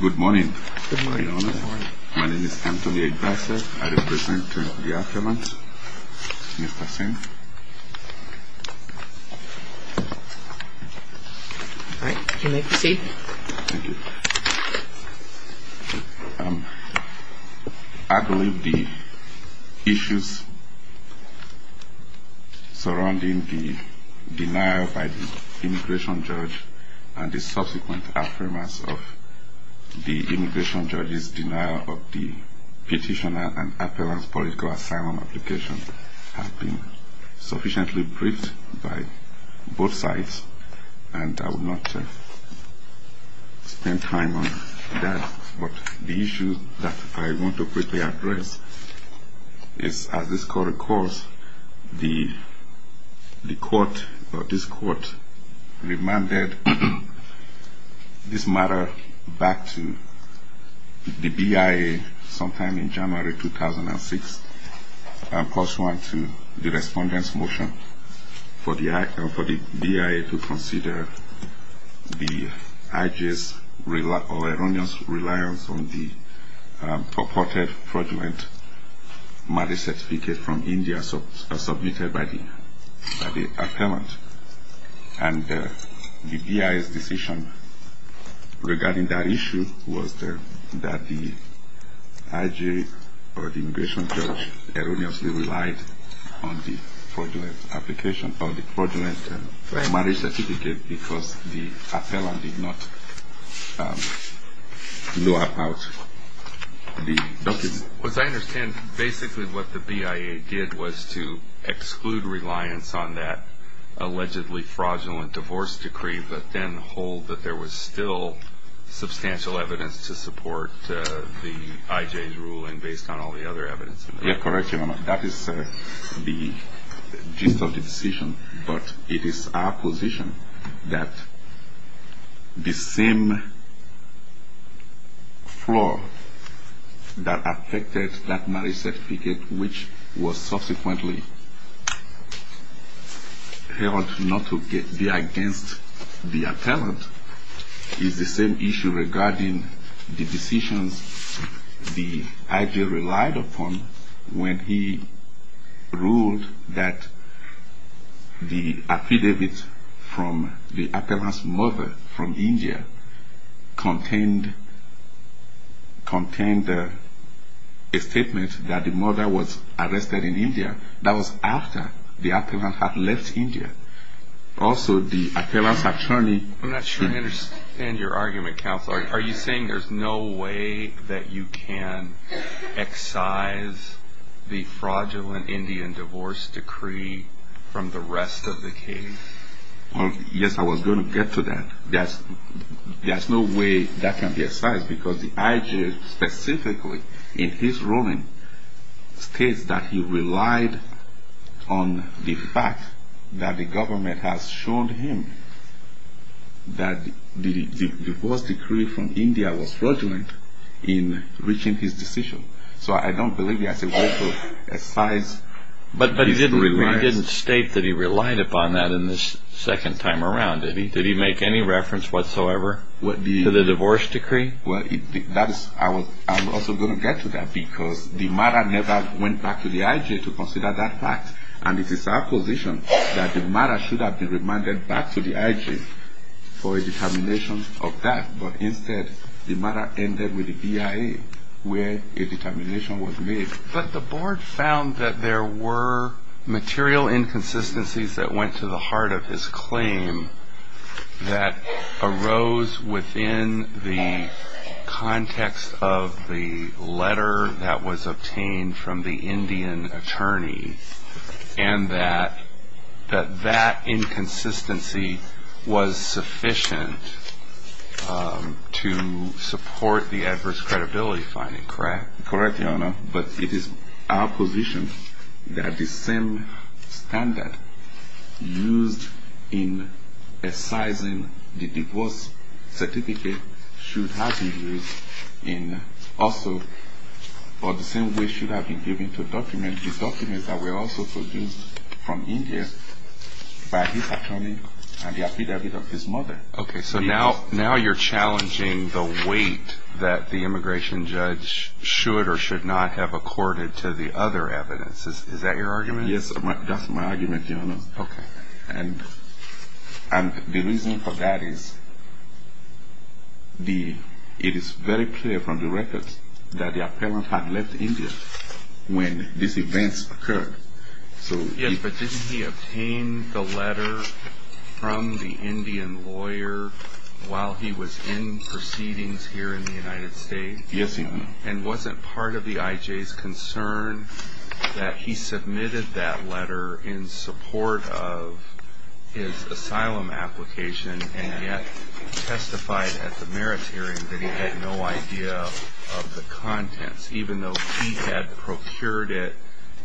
Good morning. My name is Anthony. I believe the issues surrounding the denial by the immigration judge and the subsequent affirmers of the immigration judge's denial of the petitioner and appellant's political asylum application have been sufficiently briefed by both sides. And I will not spend time on that, but the issue that I want to quickly address is, as this court recalls, the court or this court remanded this matter back to the BIA sometime in January 2006 pursuant to the respondent's motion for the BIA to consider the IG's erroneous reliance on the purported fraudulent marriage certificate from India submitted by the appellant. And the BIA's decision regarding that issue was that the IG or the immigration judge erroneously relied on the fraudulent marriage certificate because the appellant did not know about the document. As I understand, basically what the BIA did was to exclude reliance on that allegedly fraudulent divorce decree, but then hold that there was still substantial evidence to support the IG's ruling based on all the other evidence. Yes, correct, Your Honor. That is the gist of the decision. But it is our position that the same flaw that affected that marriage certificate, which was subsequently held not to be against the appellant, is the same issue regarding the decisions the IG relied upon when he ruled that the affidavit from the appellant's mother from India contained a statement that the mother was arrested in India. That was after the appellant had left India. I'm not sure I understand your argument, Counselor. Are you saying there's no way that you can excise the fraudulent Indian divorce decree from the rest of the case? Yes, I was going to get to that. There's no way that can be excised because the IG specifically in his ruling states that he relied on the fact that the government has shown him that the divorce decree from India was fraudulent in reaching his decision. So I don't believe there's a way to excise his reliance. But he didn't state that he relied upon that the second time around, did he? Did he make any reference whatsoever to the divorce decree? Well, I'm also going to get to that because the mother never went back to the IG to consider that fact. And it is our position that the mother should have been remanded back to the IG for a determination of that. But instead, the mother ended with the BIA where a determination was made. But the board found that there were material inconsistencies that went to the heart of his claim that arose within the context of the letter that was obtained from the Indian attorney and that that inconsistency was sufficient to support the adverse credibility finding, correct? Correct, Your Honor. But it is our position that the same standard used in excising the divorce certificate should have been used in also, or the same way should have been given to document the documents that were also produced from India by his attorney and the affidavit of his mother. Okay, so now you're challenging the weight that the immigration judge should or should not have accorded to the other evidence. Is that your argument? Yes, that's my argument, Your Honor. Okay. And the reason for that is it is very clear from the records that the appellant had left India when these events occurred. Yes, but didn't he obtain the letter from the Indian lawyer while he was in proceedings here in the United States? Yes, he did. And wasn't part of the IJ's concern that he submitted that letter in support of his asylum application and yet testified at the meritorium that he had no idea of the contents, even though he had procured it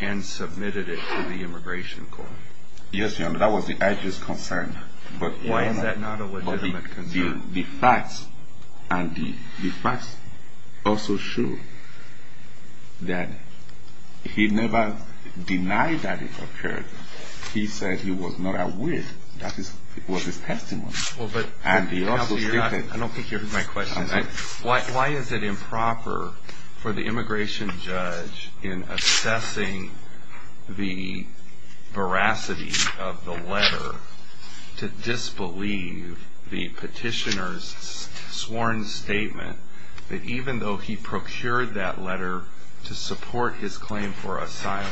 and submitted it to the immigration court? Yes, Your Honor, that was the IJ's concern. Why is that not a legitimate concern? Because the facts and the facts also show that he never denied that it occurred. He said he was not aware that it was his testimony. I don't think you heard my question. Why is it improper for the immigration judge in assessing the veracity of the letter to disbelieve the petitioner's sworn statement that even though he procured that letter to support his claim for asylum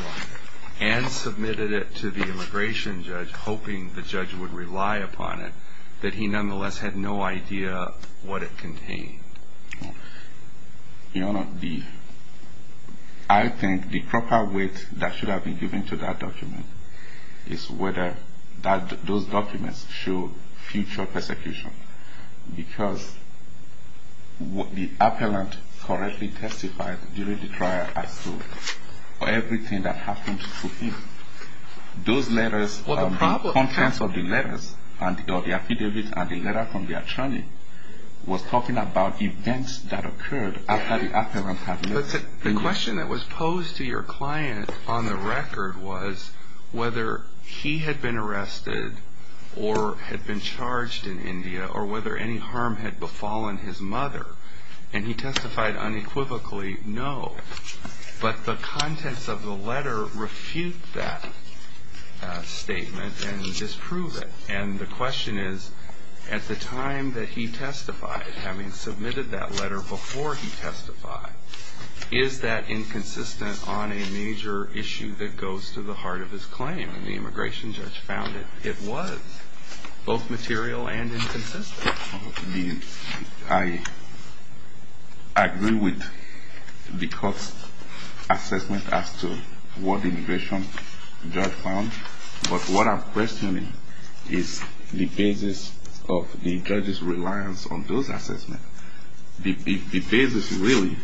and submitted it to the immigration judge hoping the judge would rely upon it, that he nonetheless had no idea what it contained? Your Honor, I think the proper weight that should have been given to that document is whether those documents show future persecution. Because the appellant correctly testified during the trial as to everything that happened to him. Those letters, the contents of the letters, the affidavit and the letter from the attorney was talking about events that occurred after the appellant had left. The question that was posed to your client on the record was whether he had been arrested or had been charged in India or whether any harm had befallen his mother. And he testified unequivocally, no. But the contents of the letter refute that statement and disprove it. And the question is, at the time that he testified, having submitted that letter before he testified, is that inconsistent on a major issue that goes to the heart of his claim? And the immigration judge found it was, both material and inconsistent. I agree with the court's assessment as to what the immigration judge found. But what I'm questioning is the basis of the judge's reliance on those assessments. The basis really,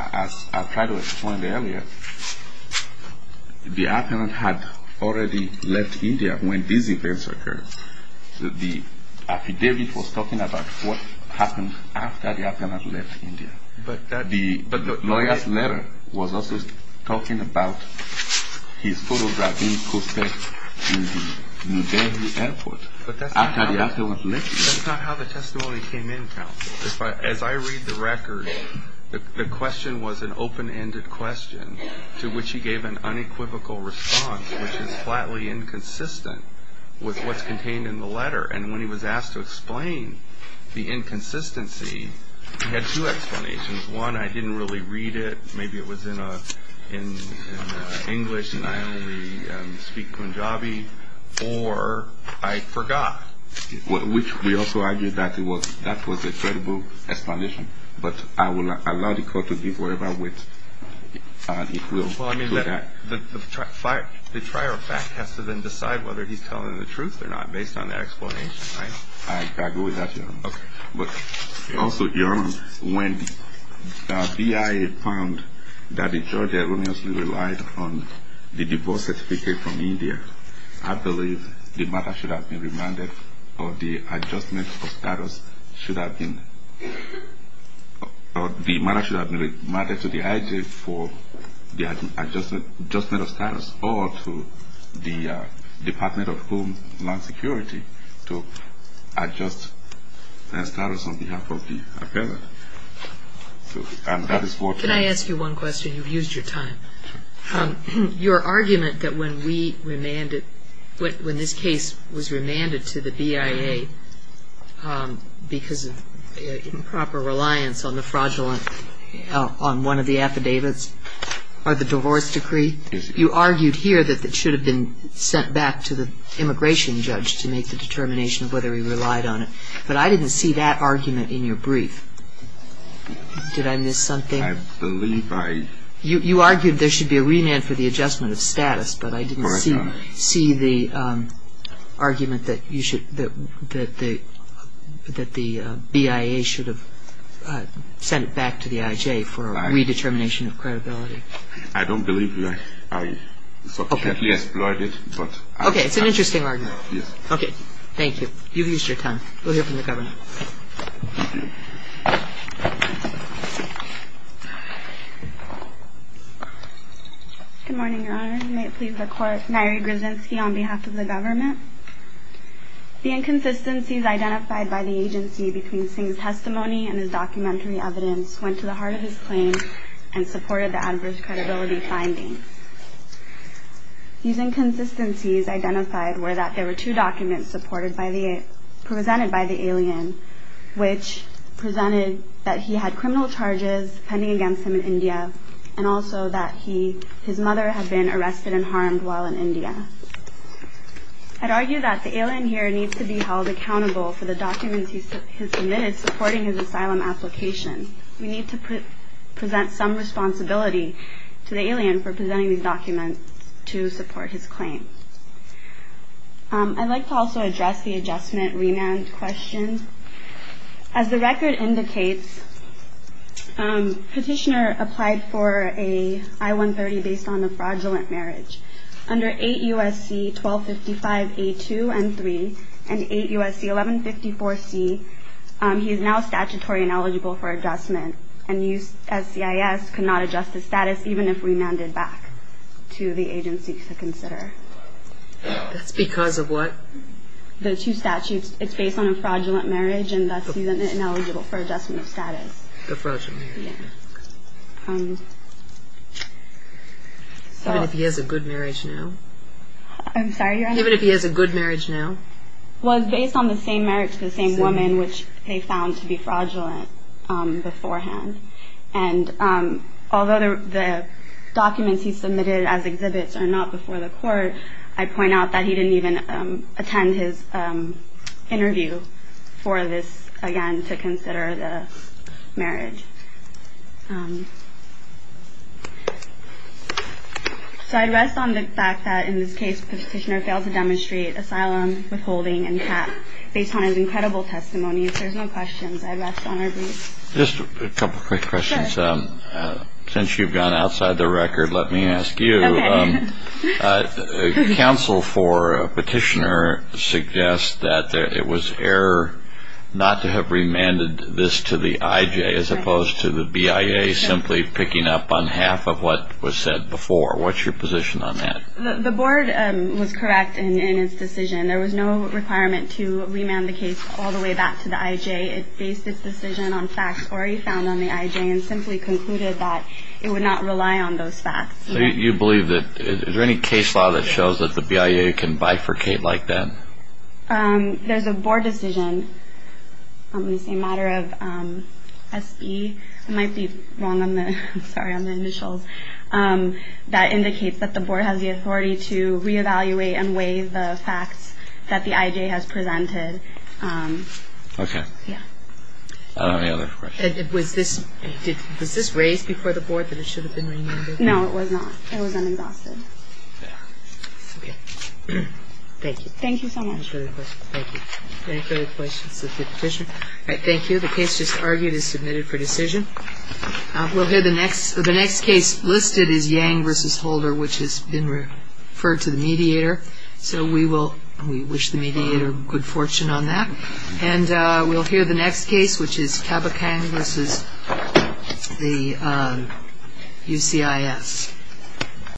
as I tried to explain earlier, the appellant had already left India when these events occurred. The affidavit was talking about what happened after the appellant left India. But the lawyer's letter was also talking about his photographing cosplay in the New Delhi airport after the appellant left India. That's not how the testimony came in, counsel. As I read the record, the question was an open-ended question to which he gave an unequivocal response, which is flatly inconsistent with what's contained in the letter. And when he was asked to explain the inconsistency, he had two explanations. One, I didn't really read it. Maybe it was in English and I only speak Punjabi. Or I forgot. Which we also argue that that was a credible explanation. But I will allow the court to give whatever weight it will to that. Well, I mean, the trier of fact has to then decide whether he's telling the truth or not based on that explanation, right? I'll go with that, Your Honor. But also, Your Honor, when the BIA found that the judge erroneously relied on the divorce certificate from India, I believe the matter should have been remanded or the adjustment of status should have been – or the matter should have been remanded to the IG for the adjustment of status, or to the Department of Homeland Security to adjust their status on behalf of the appellant. And that is what – Can I ask you one question? You've used your time. Your argument that when we remanded – when this case was remanded to the BIA because of improper reliance on the fraudulent – on one of the affidavits or the divorce decree, you argued here that it should have been sent back to the immigration judge to make the determination of whether he relied on it. But I didn't see that argument in your brief. Did I miss something? I believe I – You argued there should be a remand for the adjustment of status. Correct, Your Honor. But I didn't see the argument that you should – that the BIA should have sent it back to the IJ for a redetermination of credibility. I don't believe that I sufficiently explored it, but I – Okay. It's an interesting argument. Yes. Okay. Thank you. You've used your time. We'll hear from the Governor. Good morning, Your Honor. May it please the Court, Nyree Grzynski on behalf of the Government. The inconsistencies identified by the agency between Singh's testimony and his documentary evidence went to the heart of his claim and supported the adverse credibility findings. These inconsistencies identified were that there were two documents supported by the – presented by the alien, which presented that he had criminal charges pending against him in India, and also that he – his mother had been arrested and harmed while in India. I'd argue that the alien here needs to be held accountable for the documents he submitted supporting his asylum application. We need to present some responsibility to the alien for presenting these documents to support his claim. I'd like to also address the adjustment remand question. As the record indicates, Petitioner applied for a I-130 based on a fraudulent marriage. Under 8 U.S.C. 1255A2N3 and 8 U.S.C. 1154C, he is now statutory and eligible for adjustment, and USCIS could not adjust his status even if remanded back to the agency to consider. That's because of what? The two statutes. It's based on a fraudulent marriage, and thus he's now eligible for adjustment of status. A fraudulent marriage. Yes. Even if he has a good marriage now? I'm sorry, Your Honor? Even if he has a good marriage now? Well, it's based on the same marriage to the same woman, which they found to be fraudulent beforehand. And although the documents he submitted as exhibits are not before the court, I point out that he didn't even attend his interview for this, again, to consider the marriage. So I'd rest on the fact that in this case, Petitioner failed to demonstrate asylum withholding and CAP based on his incredible testimony. If there's no questions, I'd rest on our brief. Just a couple quick questions. Since you've gone outside the record, let me ask you. Counsel for Petitioner suggests that it was error not to have remanded this to the IJ, as opposed to the BIA simply picking up on half of what was said before. What's your position on that? The board was correct in its decision. There was no requirement to remand the case all the way back to the IJ. It based its decision on facts already found on the IJ and simply concluded that it would not rely on those facts. Do you believe that there's any case law that shows that the BIA can bifurcate like that? There's a board decision on the same matter of SB. I might be wrong on the initials. That indicates that the board has the authority to reevaluate and weigh the facts that the IJ has presented. Okay. Yeah. Any other questions? Was this raised before the board that it should have been remanded? No, it was not. It was un-exhausted. Okay. Thank you. Thank you so much. Any further questions? Thank you. Any further questions of the petitioner? All right. Thank you. The case just argued is submitted for decision. We'll hear the next. The next case listed is Yang v. Holder, which has been referred to the mediator. So we wish the mediator good fortune on that. And we'll hear the next case, which is Cabachang v. UCIS.